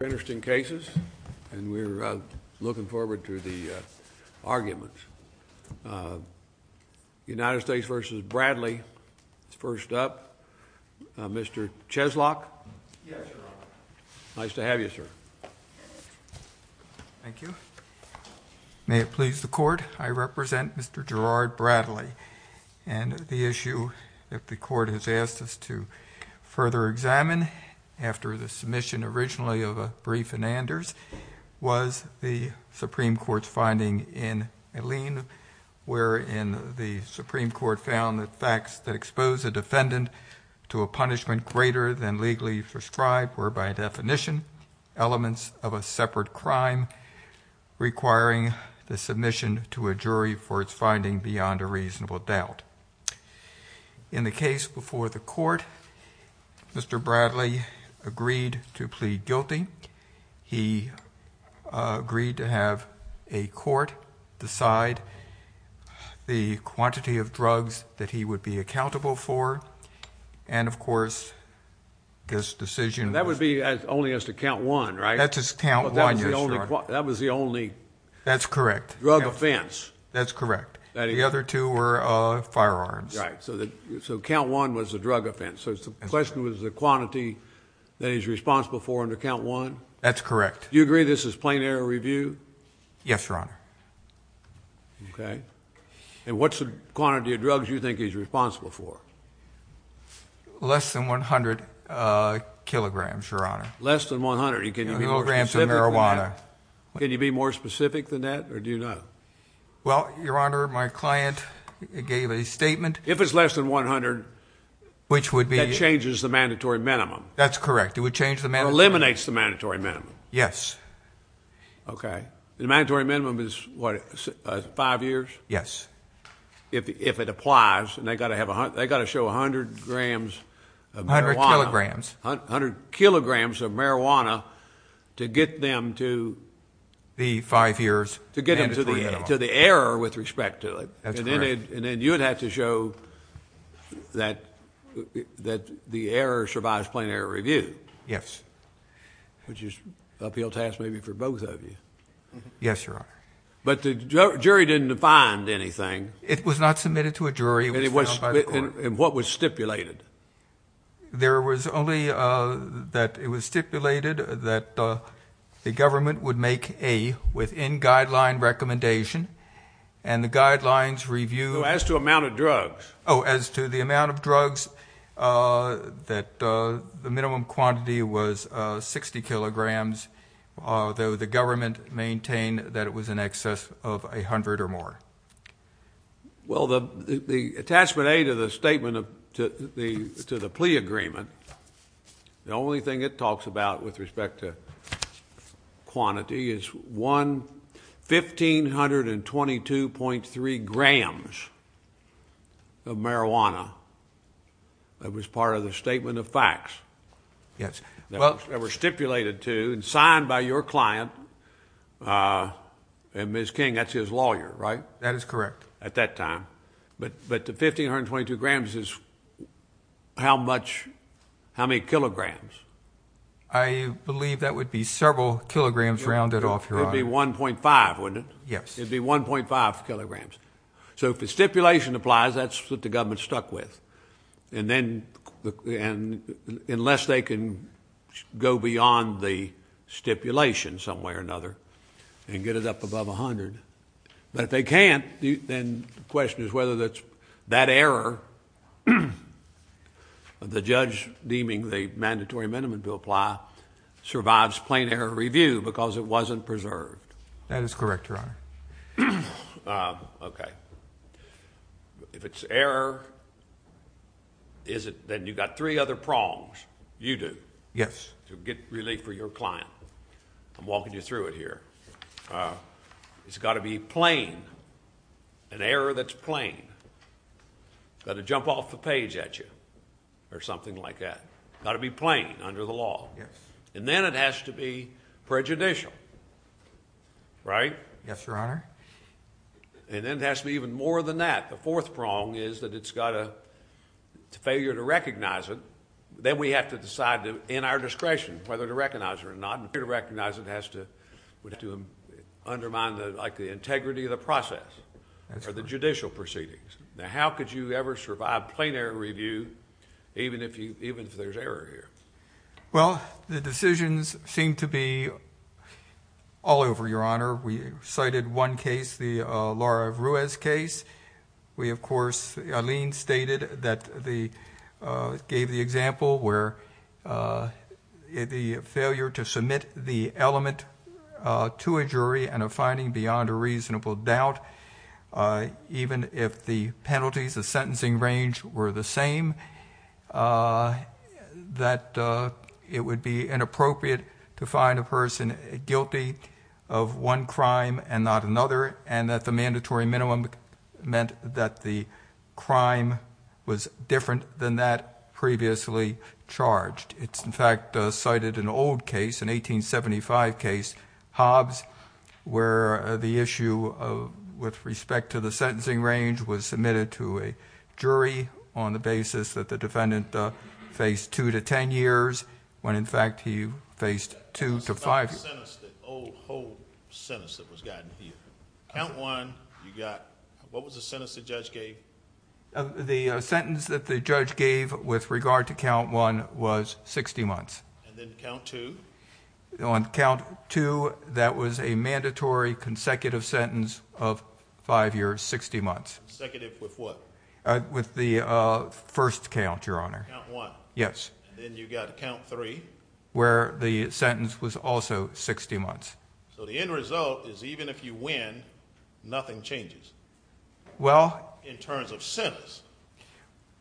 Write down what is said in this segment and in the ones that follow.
Interesting cases, and we're looking forward to the arguments. United States v. Bradley is first up. Mr. Cheslock? Yes, Your Honor. Nice to have you, sir. Thank you. May it please the Court, I represent Mr. Gerard Bradley. And the issue that the Court has asked us to further examine, after the submission originally of a brief in Anders, was the Supreme Court's finding in Alleyne, wherein the Supreme Court found that facts that expose a defendant to a punishment greater than legally prescribed were, by definition, elements of a separate crime, requiring the submission to a jury for its finding beyond a reasonable doubt. In the case before the Court, Mr. Bradley agreed to plead guilty. He agreed to have a court decide the quantity of drugs that he would be accountable for. And, of course, this decision was… That would be only as to count one, right? That's as to count one, yes, Your Honor. That was the only… That's correct. …drug offense. That's correct. The other two were firearms. Right. So count one was a drug offense. So the question was the quantity that he's responsible for under count one? That's correct. Do you agree this is plain error review? Yes, Your Honor. Okay. And what's the quantity of drugs you think he's responsible for? Less than 100 kilograms, Your Honor. Less than 100. Can you be more specific than that? Can you be more specific than that, or do you know? Well, Your Honor, my client gave a statement… If it's less than 100… …which would be… …that changes the mandatory minimum. That's correct. It would change the mandatory minimum. Or eliminates the mandatory minimum. Yes. Okay. The mandatory minimum is, what, five years? Yes. If it applies, they've got to show 100 grams of marijuana. 100 kilograms. 100 kilograms of marijuana to get them to… The five years. …to get them to the error with respect to it. That's correct. And then you would have to show that the error survives plain error review. Yes. Which is an uphill task maybe for both of you. Yes, Your Honor. But the jury didn't find anything. It was not submitted to a jury. And what was stipulated? There was only that it was stipulated that the government would make a within-guideline recommendation, and the guidelines review… As to amount of drugs. Oh, as to the amount of drugs, that the minimum quantity was 60 kilograms, though the government maintained that it was in excess of 100 or more. Well, the attachment A to the plea agreement, the only thing it talks about with respect to quantity, is 1,522.3 grams of marijuana. That was part of the statement of facts. Yes. That was stipulated to and signed by your client. And Ms. King, that's his lawyer, right? That is correct. At that time. But the 1,522 grams is how many kilograms? I believe that would be several kilograms rounded off, Your Honor. It would be 1.5, wouldn't it? Yes. It would be 1.5 kilograms. So if the stipulation applies, that's what the government's stuck with. And then unless they can go beyond the stipulation some way or another and get it up above 100. But if they can't, then the question is whether that error, the judge deeming the mandatory minimum to apply, survives plain error review because it wasn't preserved. That is correct, Your Honor. Okay. If it's error, then you've got three other prongs. You do. Yes. To get relief for your client. I'm walking you through it here. It's got to be plain, an error that's plain. It's got to jump off the page at you or something like that. It's got to be plain under the law. And then it has to be prejudicial, right? Yes, Your Honor. And then it has to be even more than that. The fourth prong is that it's got a failure to recognize it. Then we have to decide in our discretion whether to recognize it or not. And failure to recognize it has to undermine the integrity of the process or the judicial proceedings. Now, how could you ever survive plain error review even if there's error here? Well, the decisions seem to be all over, Your Honor. We cited one case, the Laura Ruiz case. We, of course, Aline stated that the example where the failure to submit the element to a jury and a finding beyond a reasonable doubt, even if the penalties of sentencing range were the same, that it would be inappropriate to find a person guilty of one crime and not another and that the mandatory minimum meant that the crime was different than that previously charged. It's, in fact, cited an old case, an 1875 case, Hobbs, where the issue with respect to the sentencing range was submitted to a jury on the basis that the defendant faced two to ten years, when, in fact, he faced two to five years. What was the sentence, the old, whole sentence that was gotten here? Count one, you got, what was the sentence the judge gave? The sentence that the judge gave with regard to count one was 60 months. And then count two? On count two, that was a mandatory consecutive sentence of five years, 60 months. Consecutive with what? With the first count, Your Honor. Count one. Yes. Then you got count three. Where the sentence was also 60 months. So the end result is even if you win, nothing changes. Well. In terms of sentence.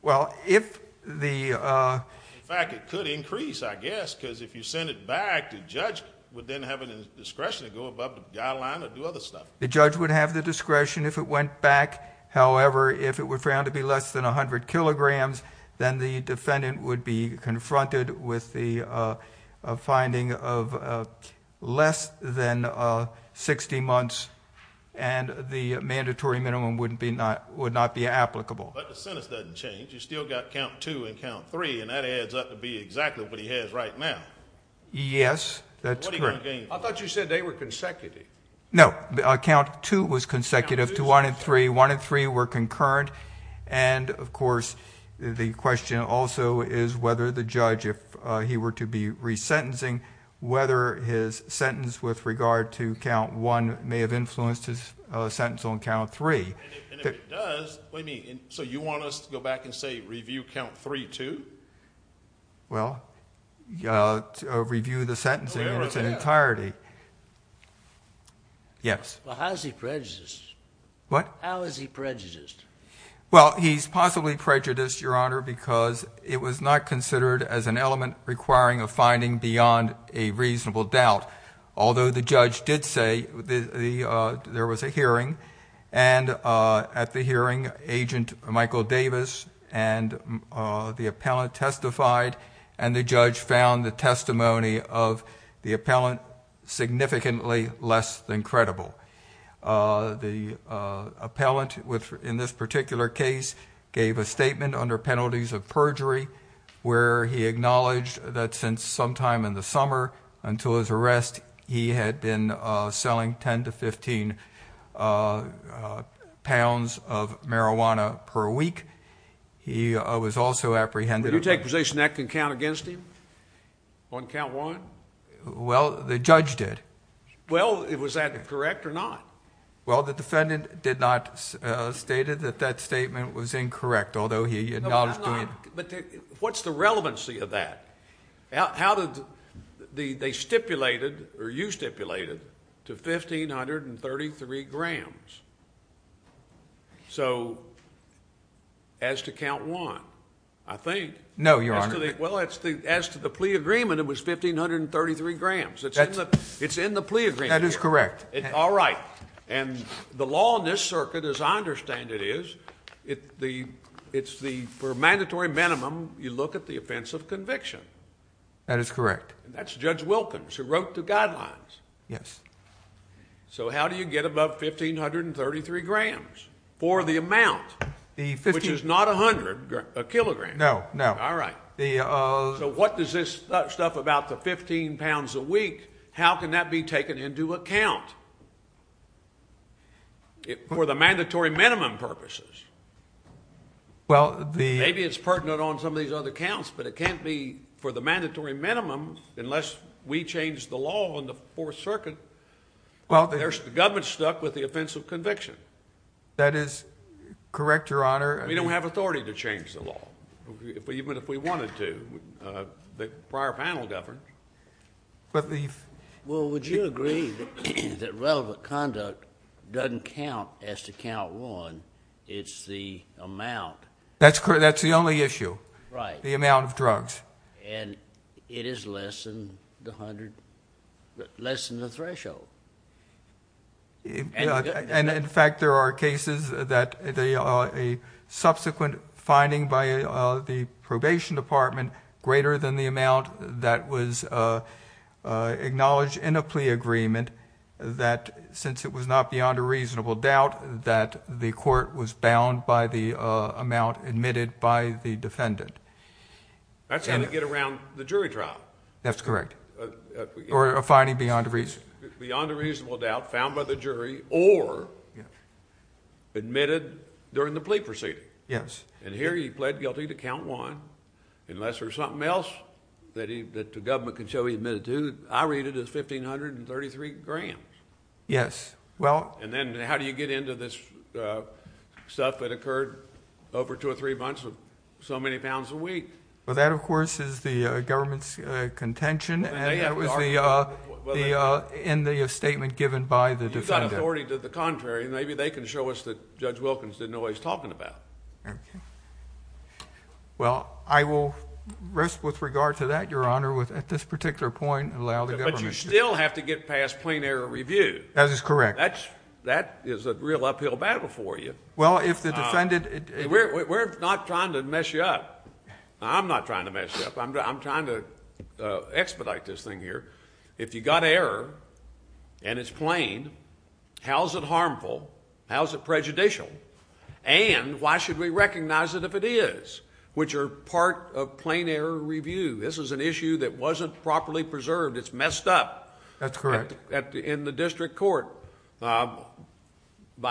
Well, if the... In fact, it could increase, I guess, because if you send it back, the judge would then have the discretion to go above the guideline or do other stuff. The judge would have the discretion if it went back. However, if it were found to be less than 100 kilograms, then the defendant would be confronted with the finding of less than 60 months, and the mandatory minimum would not be applicable. But the sentence doesn't change. You still got count two and count three, and that adds up to be exactly what he has right now. Yes, that's correct. What are you going to gain from that? I thought you said they were consecutive. No, count two was consecutive to one and three. One and three were concurrent. And, of course, the question also is whether the judge, if he were to be resentencing, whether his sentence with regard to count one may have influenced his sentence on count three. And if it does, what do you mean? So you want us to go back and say review count three too? Well, review the sentencing in its entirety. Yes. Well, how is he prejudiced? What? How is he prejudiced? Well, he's possibly prejudiced, Your Honor, because it was not considered as an element requiring a finding beyond a reasonable doubt. Although the judge did say there was a hearing, and at the hearing Agent Michael Davis and the appellant testified, and the judge found the testimony of the appellant significantly less than credible. The appellant in this particular case gave a statement under penalties of perjury where he acknowledged that since sometime in the summer until his arrest, he had been selling 10 to 15 pounds of marijuana per week. He was also apprehended. Would you take possession that can count against him on count one? Well, the judge did. Well, was that correct or not? Well, the defendant did not state that that statement was incorrect, although he acknowledged doing it. But what's the relevancy of that? How did they stipulated, or you stipulated, to 1,533 grams? So as to count one, I think. No, Your Honor. Well, as to the plea agreement, it was 1,533 grams. It's in the plea agreement. That is correct. All right. And the law in this circuit, as I understand it is, it's for a mandatory minimum you look at the offense of conviction. That is correct. And that's Judge Wilkins who wrote the guidelines. Yes. So how do you get above 1,533 grams for the amount, which is not 100 kilograms? No, no. All right. So what does this stuff about the 15 pounds a week, how can that be taken into account for the mandatory minimum purposes? Maybe it's pertinent on some of these other counts, but it can't be for the mandatory minimum unless we change the law on the Fourth Circuit. The government's stuck with the offense of conviction. That is correct, Your Honor. We don't have authority to change the law. Even if we wanted to. The prior panel governed. Well, would you agree that relevant conduct doesn't count as to count one? It's the amount. That's the only issue, the amount of drugs. And it is less than the threshold. And, in fact, there are cases that a subsequent finding by the probation department greater than the amount that was acknowledged in a plea agreement that since it was not beyond a reasonable doubt that the court was bound by the amount admitted by the defendant. That's going to get around the jury trial. Or a finding beyond a reasonable doubt. Beyond a reasonable doubt, found by the jury, or admitted during the plea proceeding. Yes. And here he pled guilty to count one, unless there's something else that the government can show he admitted to. I read it as 1,533 grams. Yes. And then how do you get into this stuff that occurred over two or three months with so many pounds of wheat? Well, that, of course, is the government's contention. And it was in the statement given by the defendant. You've got authority to the contrary, and maybe they can show us that Judge Wilkins didn't know what he was talking about. Okay. Well, I will rest with regard to that, Your Honor, with at this particular point allow the government to. But you still have to get past plain error review. That is correct. That is a real uphill battle for you. Well, if the defendant... We're not trying to mess you up. I'm not trying to mess you up. I'm trying to expedite this thing here. If you got error and it's plain, how is it harmful? How is it prejudicial? And why should we recognize it if it is, which are part of plain error review? This is an issue that wasn't properly preserved. It's messed up. That's correct. In the district court by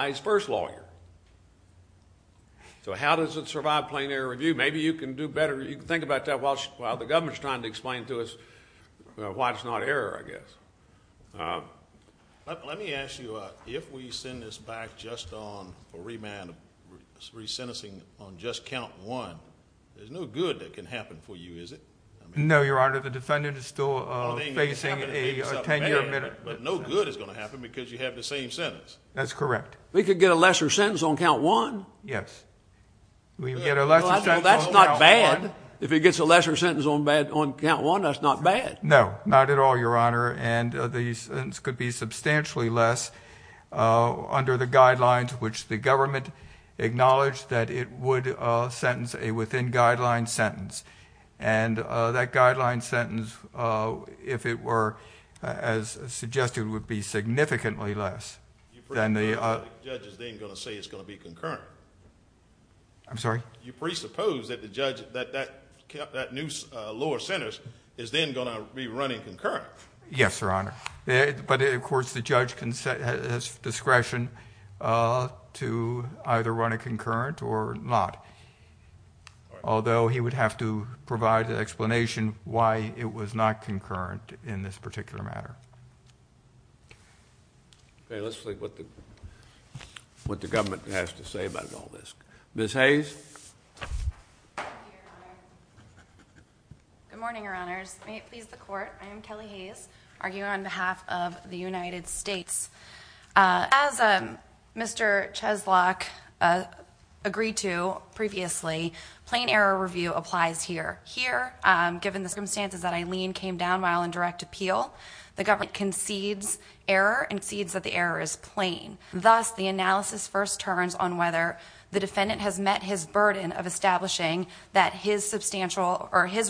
his first lawyer. So how does it survive plain error review? Maybe you can do better. You can think about that while the government is trying to explain to us why it's not error, I guess. Let me ask you, if we send this back just on a remand, resentencing on just count one, there's no good that can happen for you, is it? No, Your Honor. The defendant is still facing a 10-year admittal. But no good is going to happen because you have the same sentence. That's correct. We could get a lesser sentence on count one. Yes. That's not bad. If he gets a lesser sentence on count one, that's not bad. No, not at all, Your Honor. And the sentence could be substantially less under the guidelines, which the government acknowledged that it would sentence a within guideline sentence. And that guideline sentence, if it were as suggested, would be significantly less. You presuppose that the judge is then going to say it's going to be concurrent. I'm sorry? You presuppose that that lower sentence is then going to be running concurrent. Yes, Your Honor. But, of course, the judge has discretion to either run a concurrent or not. Although he would have to provide an explanation why it was not concurrent in this particular matter. Okay. Let's see what the government has to say about all this. Ms. Hayes? Thank you, Your Honor. Good morning, Your Honors. May it please the Court, I am Kelly Hayes, arguing on behalf of the United States. As Mr. Cheslock agreed to previously, plain error review applies here. Here, given the circumstances that Eileen came down while in direct appeal, the government concedes error and concedes that the error is plain. Thus, the analysis first turns on whether the defendant has met his burden of establishing that his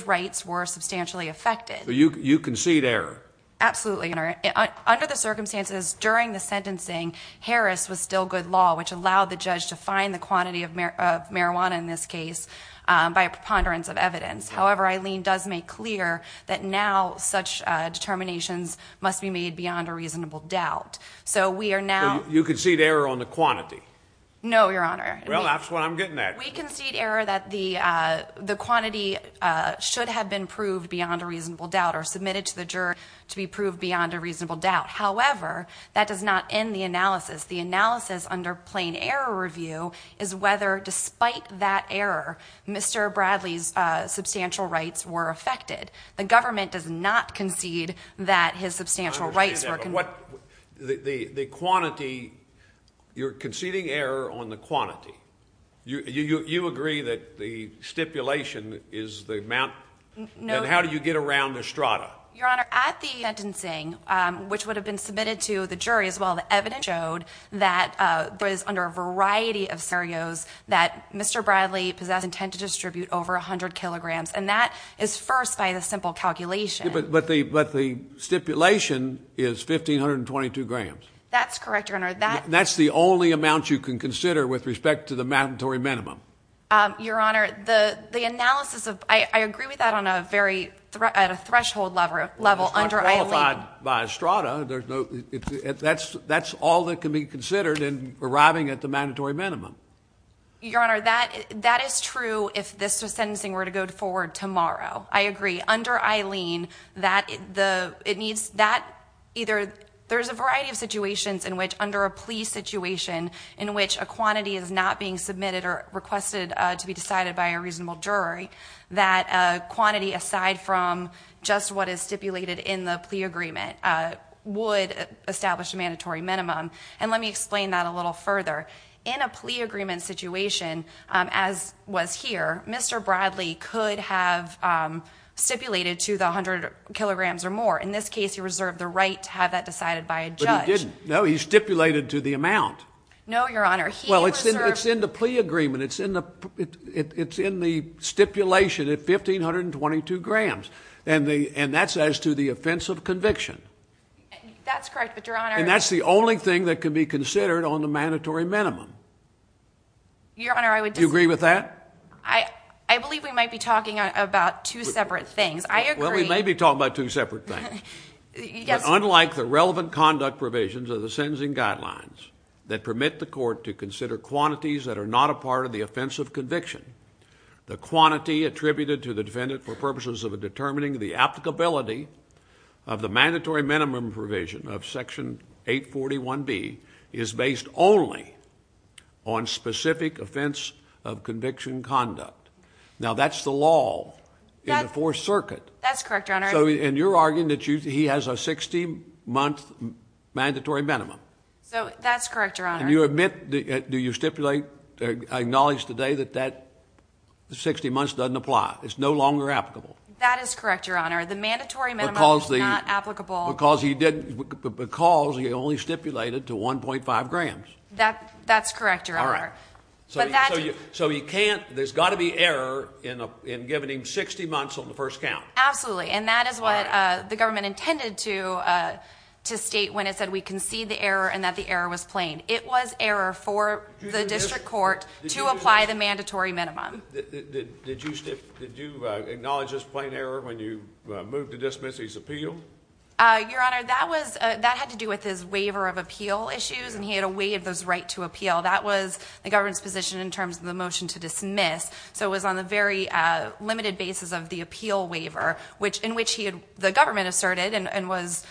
rights were substantially affected. So you concede error? Absolutely, Your Honor. Under the circumstances, during the sentencing, Harris was still good law, which allowed the judge to find the quantity of marijuana in this case by a preponderance of evidence. However, Eileen does make clear that now such determinations must be made beyond a reasonable doubt. So we are now – So you concede error on the quantity? No, Your Honor. Well, that's what I'm getting at. We concede error that the quantity should have been proved beyond a reasonable doubt or submitted to the jury to be proved beyond a reasonable doubt. However, that does not end the analysis. The analysis under plain error review is whether, despite that error, Mr. Bradley's substantial rights were affected. The government does not concede that his substantial rights were – I understand that. But what – the quantity – you're conceding error on the quantity. You agree that the stipulation is the amount – No – And how do you get around Estrada? Your Honor, at the sentencing, which would have been submitted to the jury as well, the evidence showed that there was, under a variety of scenarios, that Mr. Bradley possessed intent to distribute over 100 kilograms. And that is first by the simple calculation. But the stipulation is 1,522 grams. That's correct, Your Honor. That's the only amount you can consider with respect to the mandatory minimum. Your Honor, the analysis of – I agree with that on a very – at a threshold level under – Well, it's not qualified by Estrada. There's no – that's all that can be considered in arriving at the Your Honor, that is true if this sentencing were to go forward tomorrow. I agree. Under Eileen, that – it needs – that either – there's a variety of situations in which, under a plea situation, in which a quantity is not being submitted or requested to be decided by a reasonable jury, that quantity aside from just what is stipulated in the plea agreement would establish a mandatory minimum. And let me explain that a little further. In a plea agreement situation, as was here, Mr. Bradley could have stipulated to the 100 kilograms or more. In this case, he reserved the right to have that decided by a judge. But he didn't. No, he stipulated to the amount. No, Your Honor. He reserved – Well, it's in the plea agreement. It's in the stipulation at 1,522 grams. And that's as to the offense of conviction. That's correct, but Your Honor – And that's the only thing that can be considered on the mandatory minimum. Your Honor, I would just – Do you agree with that? I believe we might be talking about two separate things. I agree – Well, we may be talking about two separate things. Yes. But unlike the relevant conduct provisions of the sentencing guidelines that permit the court to consider quantities that are not a part of the offense of conviction, the quantity attributed to the defendant for purposes of determining the applicability of the mandatory minimum provision of Section 841B is based only on specific offense of conviction conduct. Now, that's the law in the Fourth Circuit. That's correct, Your Honor. And you're arguing that he has a 60-month mandatory minimum. That's correct, Your Honor. And you admit – do you stipulate – acknowledge today that that 60 months doesn't apply? It's no longer applicable? That is correct, Your Honor. The mandatory minimum is not applicable. Because he only stipulated to 1.5 grams. That's correct, Your Honor. All right. So you can't – there's got to be error in giving him 60 months on the first count. Absolutely. And that is what the government intended to state when it said we concede the error and that the error was plain. It was error for the district court to apply the mandatory minimum. Did you acknowledge this plain error when you moved to dismiss his appeal? Your Honor, that had to do with his waiver of appeal issues, and he had a way of his right to appeal. That was the government's position in terms of the motion to dismiss. So it was on the very limited basis of the appeal waiver, in which the government asserted and it was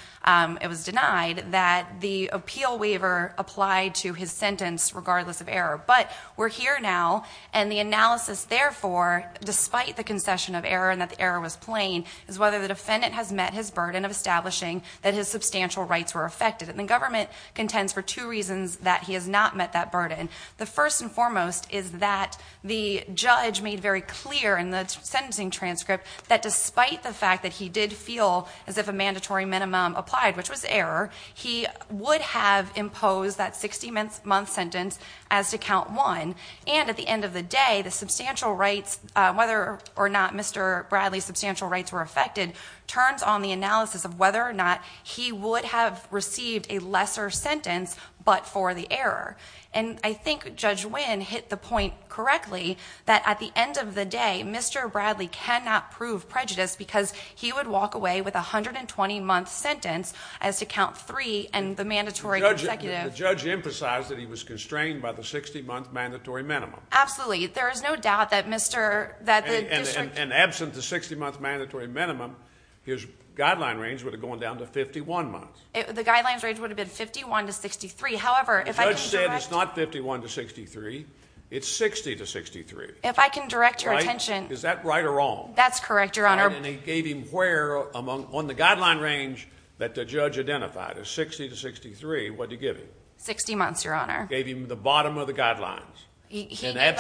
denied that the appeal waiver applied to his sentence regardless of error. But we're here now, and the analysis therefore, despite the concession of error and that the error was plain, is whether the defendant has met his burden of establishing that his substantial rights were affected. And the government contends for two reasons that he has not met that burden. The first and foremost is that the judge made very clear in the sentencing transcript that despite the fact that he did feel as if a mandatory minimum applied, which was error, he would have imposed that 60-month sentence as to count one. And at the end of the day, the substantial rights, whether or not Mr. Bradley's substantial rights were affected, turns on the analysis of whether or not he would have received a lesser sentence but for the error. And I think Judge Winn hit the point correctly that at the end of the day, Mr. Bradley cannot prove prejudice because he would walk away with a 120-month sentence as to count three and the mandatory consecutive. The judge emphasized that he was constrained by the 60-month mandatory minimum. Absolutely. There is no doubt that the district... And absent the 60-month mandatory minimum, his guideline range would have gone down to 51 months. The guideline range would have been 51 to 63. However, if I can direct... The judge said it's not 51 to 63. It's 60 to 63. If I can direct your attention... Is that right or wrong? That's correct, Your Honor. And he gave him where on the guideline range that the judge identified, a 60 to 63, what did he give him? 60 months, Your Honor. Gave him the bottom of the guidelines. He gave him at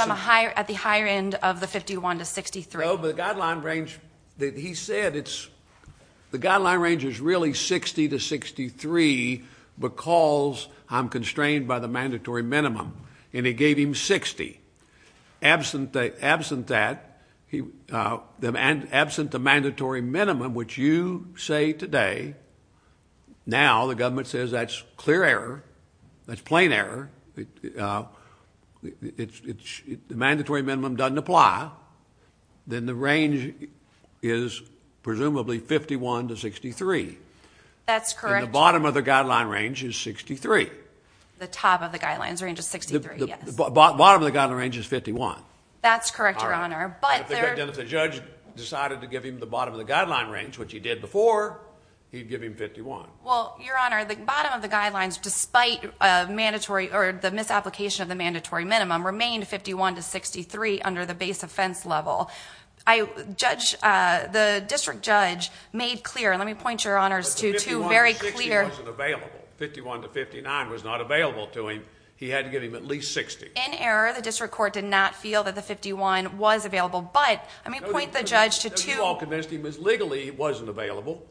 the higher end of the 51 to 63. No, but the guideline range that he said, the guideline range is really 60 to 63 because I'm constrained by the mandatory minimum. And he gave him 60. Absent that, absent the mandatory minimum, which you say today, now the government says that's clear error, that's plain error, the mandatory minimum doesn't apply, then the range is presumably 51 to 63. That's correct. And the bottom of the guideline range is 63. The top of the guidelines range is 63, yes. Bottom of the guideline range is 51. That's correct, Your Honor. Then if the judge decided to give him the bottom of the guideline range, which he did before, he'd give him 51. Well, Your Honor, the bottom of the guidelines, despite the misapplication of the mandatory minimum, remained 51 to 63 under the base offense level. The district judge made clear, and let me point Your Honors to two very clear... But the 51 to 60 wasn't available. 51 to 59 was not available to him. He had to give him at least 60. In error, the district court did not feel that the 51 was available. But let me point the judge to two... No, you all convinced him that legally it wasn't available,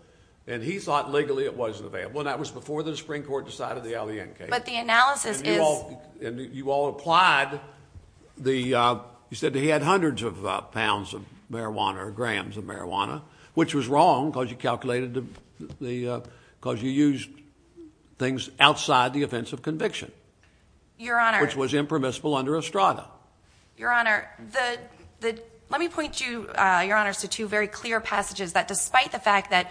and he thought legally it wasn't available, and that was before the Supreme Court decided the Alliant case. But the analysis is... And you all applied the... You said he had hundreds of pounds of marijuana or grams of marijuana, which was wrong because you calculated the... Your Honor... Which was impermissible under Estrada. Your Honor, the... Let me point you, Your Honors, to two very clear passages that despite the fact that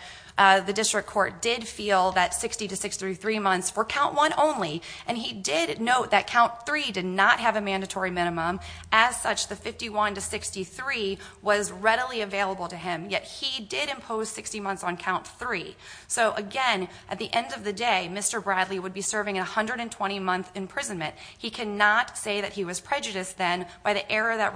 the district court did feel that 60 to 63 months were count one only, and he did note that count three did not have a mandatory minimum, as such the 51 to 63 was readily available to him, yet he did impose 60 months on count three. So, again, at the end of the day, Mr. Bradley would be serving a 120-month imprisonment. He cannot say that he was prejudiced then by the error that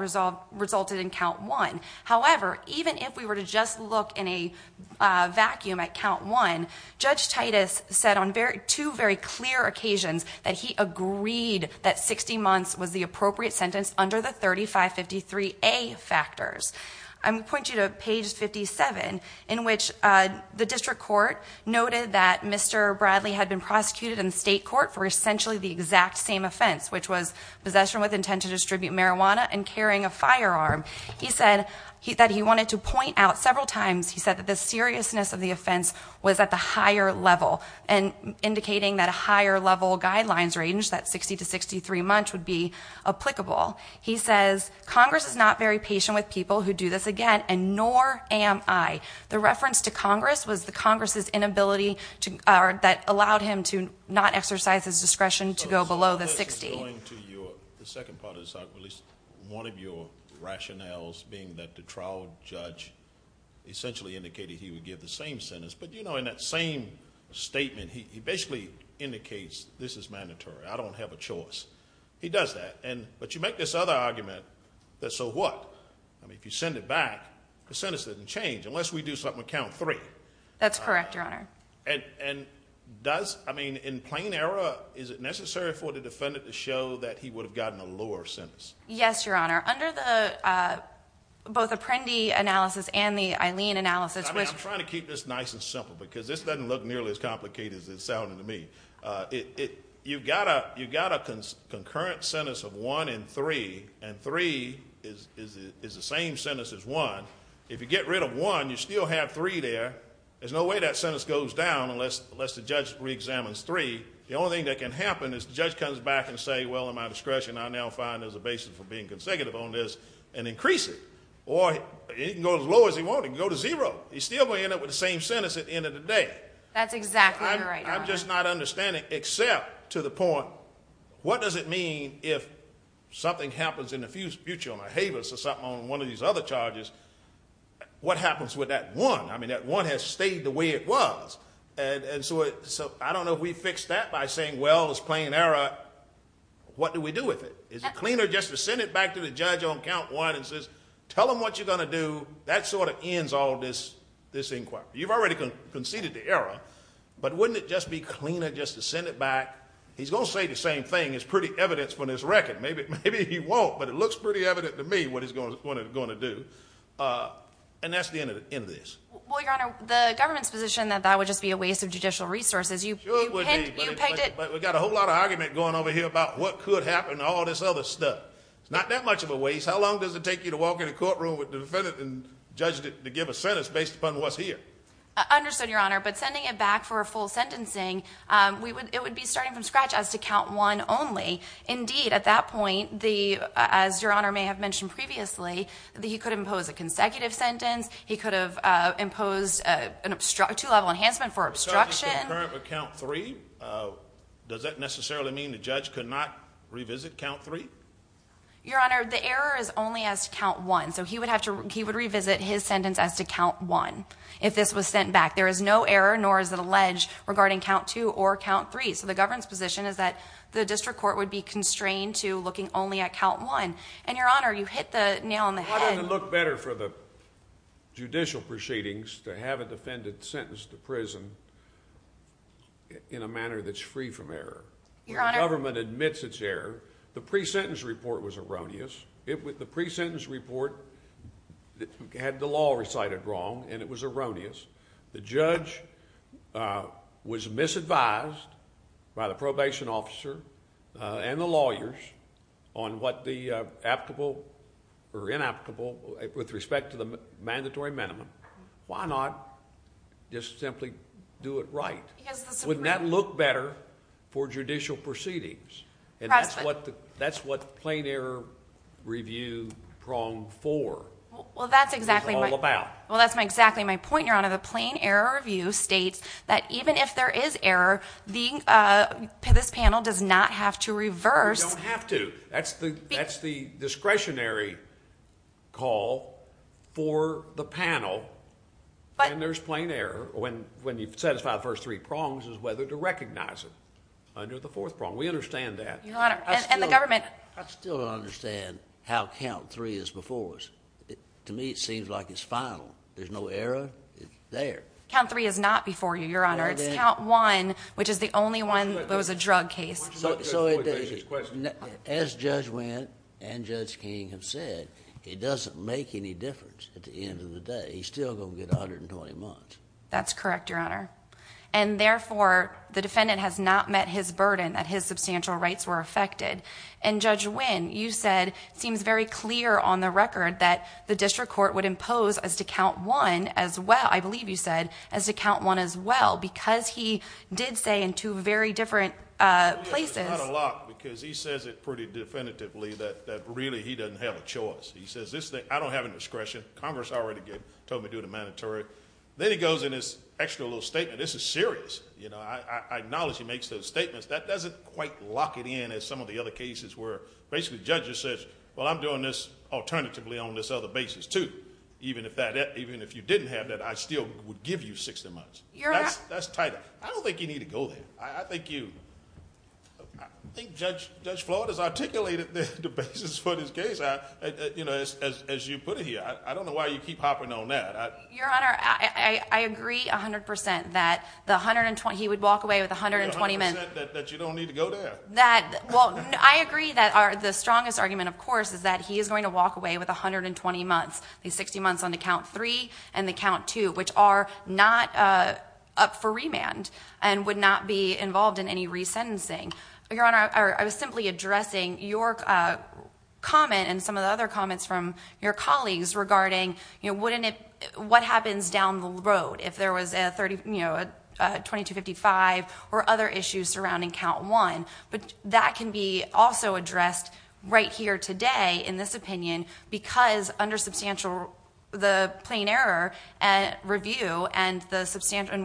resulted in count one. However, even if we were to just look in a vacuum at count one, Judge Titus said on two very clear occasions that he agreed that 60 months was the appropriate sentence under the 3553A factors. I'm going to point you to page 57, in which the district court noted that Mr. Bradley had been prosecuted in state court for essentially the exact same offense, which was possession with intent to distribute marijuana and carrying a firearm. He said that he wanted to point out several times, he said that the seriousness of the offense was at the higher level, indicating that a higher level guidelines range, that 60 to 63 months would be applicable. He says, Congress is not very patient with people who do this again, and nor am I. The reference to Congress was the Congress' inability that allowed him to not exercise his discretion to go below the 60. Going to the second part of this argument, one of your rationales being that the trial judge essentially indicated he would give the same sentence. But, you know, in that same statement, he basically indicates this is mandatory, I don't have a choice. He does that. But you make this other argument that so what? I mean, if you send it back, the sentence doesn't change unless we do something to count three. That's correct, Your Honor. And does, I mean, in plain error, is it necessary for the defendant to show that he would have gotten a lower sentence? Yes, Your Honor. Under the both Apprendi analysis and the Eileen analysis... I mean, I'm trying to keep this nice and simple because this doesn't look nearly as complicated as it sounded to me. You've got a concurrent sentence of one and three, and three is the same sentence as one. If you get rid of one, you still have three there. There's no way that sentence goes down unless the judge reexamines three. The only thing that can happen is the judge comes back and says, well, in my discretion, I now find there's a basis for being consecutive on this and increase it. Or he can go as low as he wants. He can go to zero. He's still going to end up with the same sentence at the end of the day. That's exactly right, Your Honor. I'm just not understanding, except to the point, what does it mean if something happens in the future on one of these other charges, what happens with that one? I mean, that one has stayed the way it was. And so I don't know if we fix that by saying, well, it's plain error. What do we do with it? Is it cleaner just to send it back to the judge on count one and says, tell him what you're going to do? That sort of ends all this inquiry. You've already conceded the error, but wouldn't it just be cleaner just to send it back? He's going to say the same thing. It's pretty evident from this record. Maybe he won't, but it looks pretty evident to me what he's going to do. And that's the end of this. Well, Your Honor, the government's position that that would just be a waste of judicial resources. Sure it would be. But we've got a whole lot of argument going over here about what could happen to all this other stuff. It's not that much of a waste. How long does it take you to walk in a courtroom with the defendant and judge to give a sentence based upon what's here? Understood, Your Honor. But sending it back for a full sentencing, it would be starting from scratch as to count one only. Indeed, at that point, as Your Honor may have mentioned previously, he could impose a consecutive sentence. He could have imposed a two-level enhancement for obstruction. The judge is concurrent with count three. Does that necessarily mean the judge could not revisit count three? Your Honor, the error is only as to count one. So he would revisit his sentence as to count one if this was sent back. There is no error, nor is it alleged, regarding count two or count three. So the government's position is that the district court would be constrained to looking only at count one. And Your Honor, you hit the nail on the head. Why doesn't it look better for the judicial proceedings to have a defendant sentenced to prison in a manner that's free from error, where the government admits its error? The pre-sentence report was erroneous. The pre-sentence report had the law recited wrong, and it was erroneous. The judge was misadvised by the probation officer and the lawyers on what the applicable or inapplicable, with respect to the mandatory minimum. Why not just simply do it right? Wouldn't that look better for judicial proceedings? And that's what the plain error review prong four is all about. Well, that's exactly my point, Your Honor. The plain error review states that even if there is error, this panel does not have to reverse. They don't have to. That's the discretionary call for the panel. And there's plain error. When you've satisfied the first three prongs is whether to recognize it under the fourth prong. We understand that. Your Honor, and the government... I still don't understand how count three is before us. To me, it seems like it's final. There's no error. It's there. Count three is not before you, Your Honor. It's count one, which is the only one that was a drug case. So as Judge Wynn and Judge King have said, it doesn't make any difference at the end of the day. He's still going to get 120 months. That's correct, Your Honor. And therefore, the defendant has not met his burden that his substantial rights were affected. And Judge Wynn, you said, seems very clear on the record that the district court would impose as to count one as well, I believe you said, as to count one as well, because he did say in two very different places. Not a lot, because he says it pretty definitively that really he doesn't have a choice. He says, I don't have any discretion. Congress already told me to do the mandatory. Then he goes in this extra little statement. This is serious. I acknowledge he makes those statements. That doesn't quite lock it in as some of the other cases where basically the judge just says, well, I'm doing this alternatively on this other basis too. Even if you didn't have that, I still would give you 60 months. That's tight. I don't think you need to go there. I think you... I think Judge Floyd has articulated the basis for this case, you know, as you put it here. I don't know why you keep hopping on that. Your Honor, I agree 100% that the 120... He would walk away with 120 months. 100% that you don't need to go there. I agree that the strongest argument, of course, is that he is going to walk away with 120 months, 60 months on the count three and the count two, which are not up for remand and would not be involved in any resentencing. Your Honor, I was simply addressing your comment and some of the other comments from your colleagues regarding what happens down the road if there was a 2255 or other issues surrounding count one. But that can be also addressed right here today in this opinion because under the plain error review and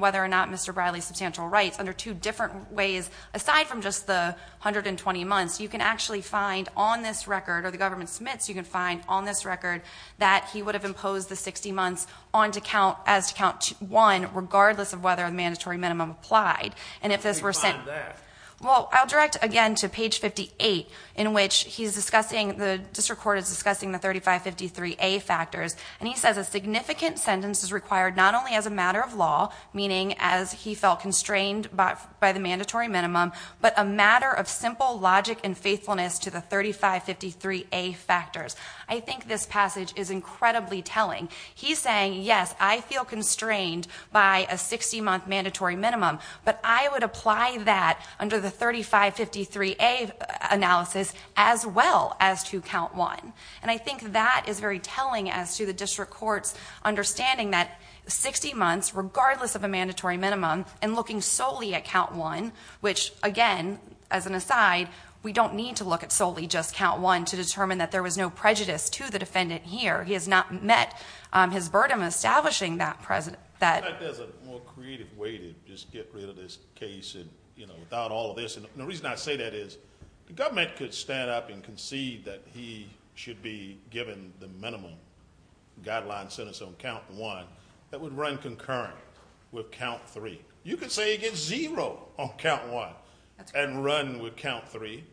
whether or not Mr. Bradley's substantial rights, under two different ways, aside from just the 120 months, you can actually find on this record, or the government submits, you can find on this record that he would have imposed the 60 months as to count one, regardless of whether the mandatory minimum applied. How do you find that? I'll direct again to page 58, in which the district court is discussing the 3553A factors, and he says, a significant sentence is required not only as a matter of law, meaning as he felt constrained by the mandatory minimum, but a matter of simple logic and faithfulness to the 3553A factors. I think this passage is incredibly telling. He's saying, yes, I feel constrained by a 60-month mandatory minimum, but I would apply that under the 3553A analysis as well as to count one. And I think that is very telling as to the district court's understanding that 60 months, regardless of a mandatory minimum, and looking solely at count one, which, again, as an aside, we don't need to look at solely just count one to determine that there was no prejudice to the defendant here. He has not met his burden establishing that precedent. In fact, there's a more creative way to just get rid of this case without all of this. And the reason I say that is the government could stand up and concede that he should be given the minimum guideline sentence on count one that would run concurrent with count three. You could say he gets zero on count one and run with count three,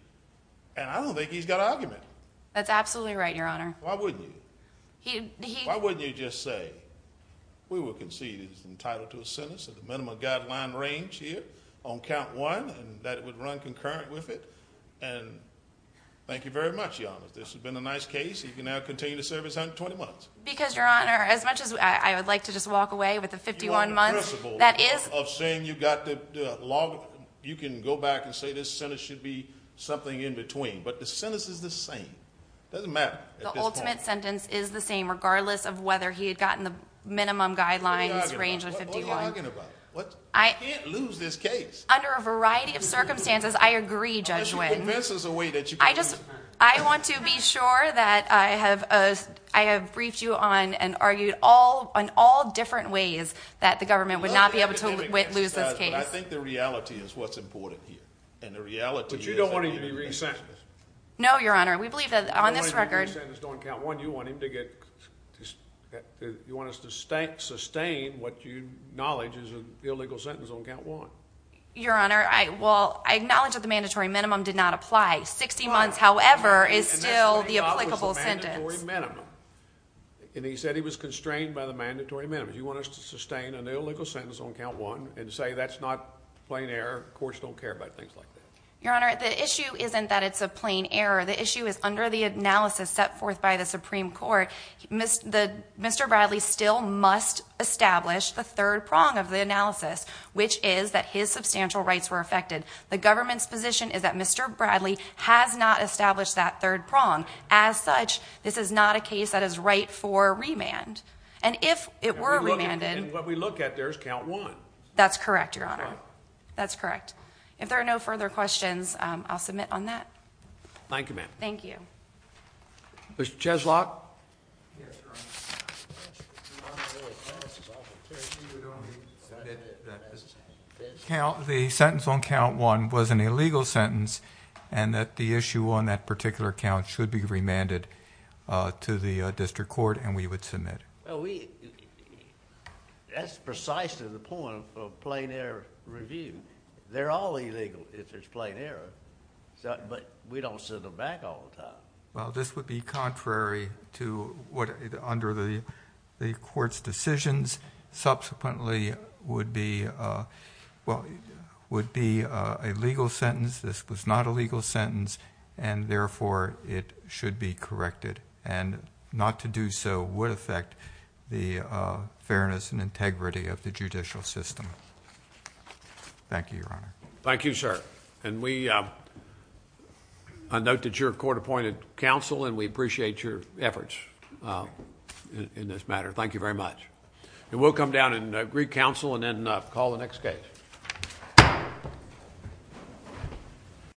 and I don't think he's got an argument. That's absolutely right, Your Honor. Why wouldn't you? Why wouldn't you just say, we will concede he's entitled to a sentence at the minimum guideline range here on count one and that it would run concurrent with it? And thank you very much, Your Honor. This has been a nice case. You can now continue to serve his 120 months. Because, Your Honor, as much as I would like to just walk away with the 51 months. You want the principle of saying you can go back and say this sentence should be something in between, but the sentence is the same. It doesn't matter at this point. The ultimate sentence is the same, regardless of whether he had gotten the minimum guidelines range of 51. What are you arguing about? You can't lose this case. Under a variety of circumstances, I agree, Judge Wynn. Unless you convince us in a way that you can lose it. I want to be sure that I have briefed you on and argued on all different ways that the government would not be able to lose this case. I think the reality is what's important here. But you don't want to be resent. No, Your Honor. We believe that on this record. You don't want him to be sentenced on count one. You want us to sustain what you acknowledge is an illegal sentence on count one. Your Honor, I acknowledge that the mandatory minimum did not apply. 60 months, however, is still the applicable sentence. And that's what he thought was the mandatory minimum. And he said he was constrained by the mandatory minimum. You want us to sustain an illegal sentence on count one and say that's not plain error. Courts don't care about things like that. Your Honor, the issue isn't that it's a plain error. The issue is under the analysis set forth by the Supreme Court, Mr. Bradley still must establish the third prong of the analysis, which is that his substantial rights were affected. The government's position is that Mr. Bradley has not established that third prong. As such, this is not a case that is right for remand. And if it were remanded. And what we look at there is count one. That's correct, Your Honor. That's right. That's correct. If there are no further questions, I'll submit on that. Thank you, ma'am. Thank you. Mr. Cheslock. The sentence on count one was an illegal sentence and that the issue on that particular count should be remanded to the district court, and we would submit. That's precisely the point of plain error review. They're all illegal if it's plain error, but we don't send them back all the time. Well, this would be contrary to what, under the court's decisions, subsequently would be a legal sentence. This was not a legal sentence, and therefore it should be corrected. And not to do so would affect the fairness and integrity of the judicial system. Thank you, Your Honor. Thank you, sir. And we note that you're a court-appointed counsel, and we appreciate your efforts in this matter. Thank you very much. And we'll come down and greet counsel and then call the next case.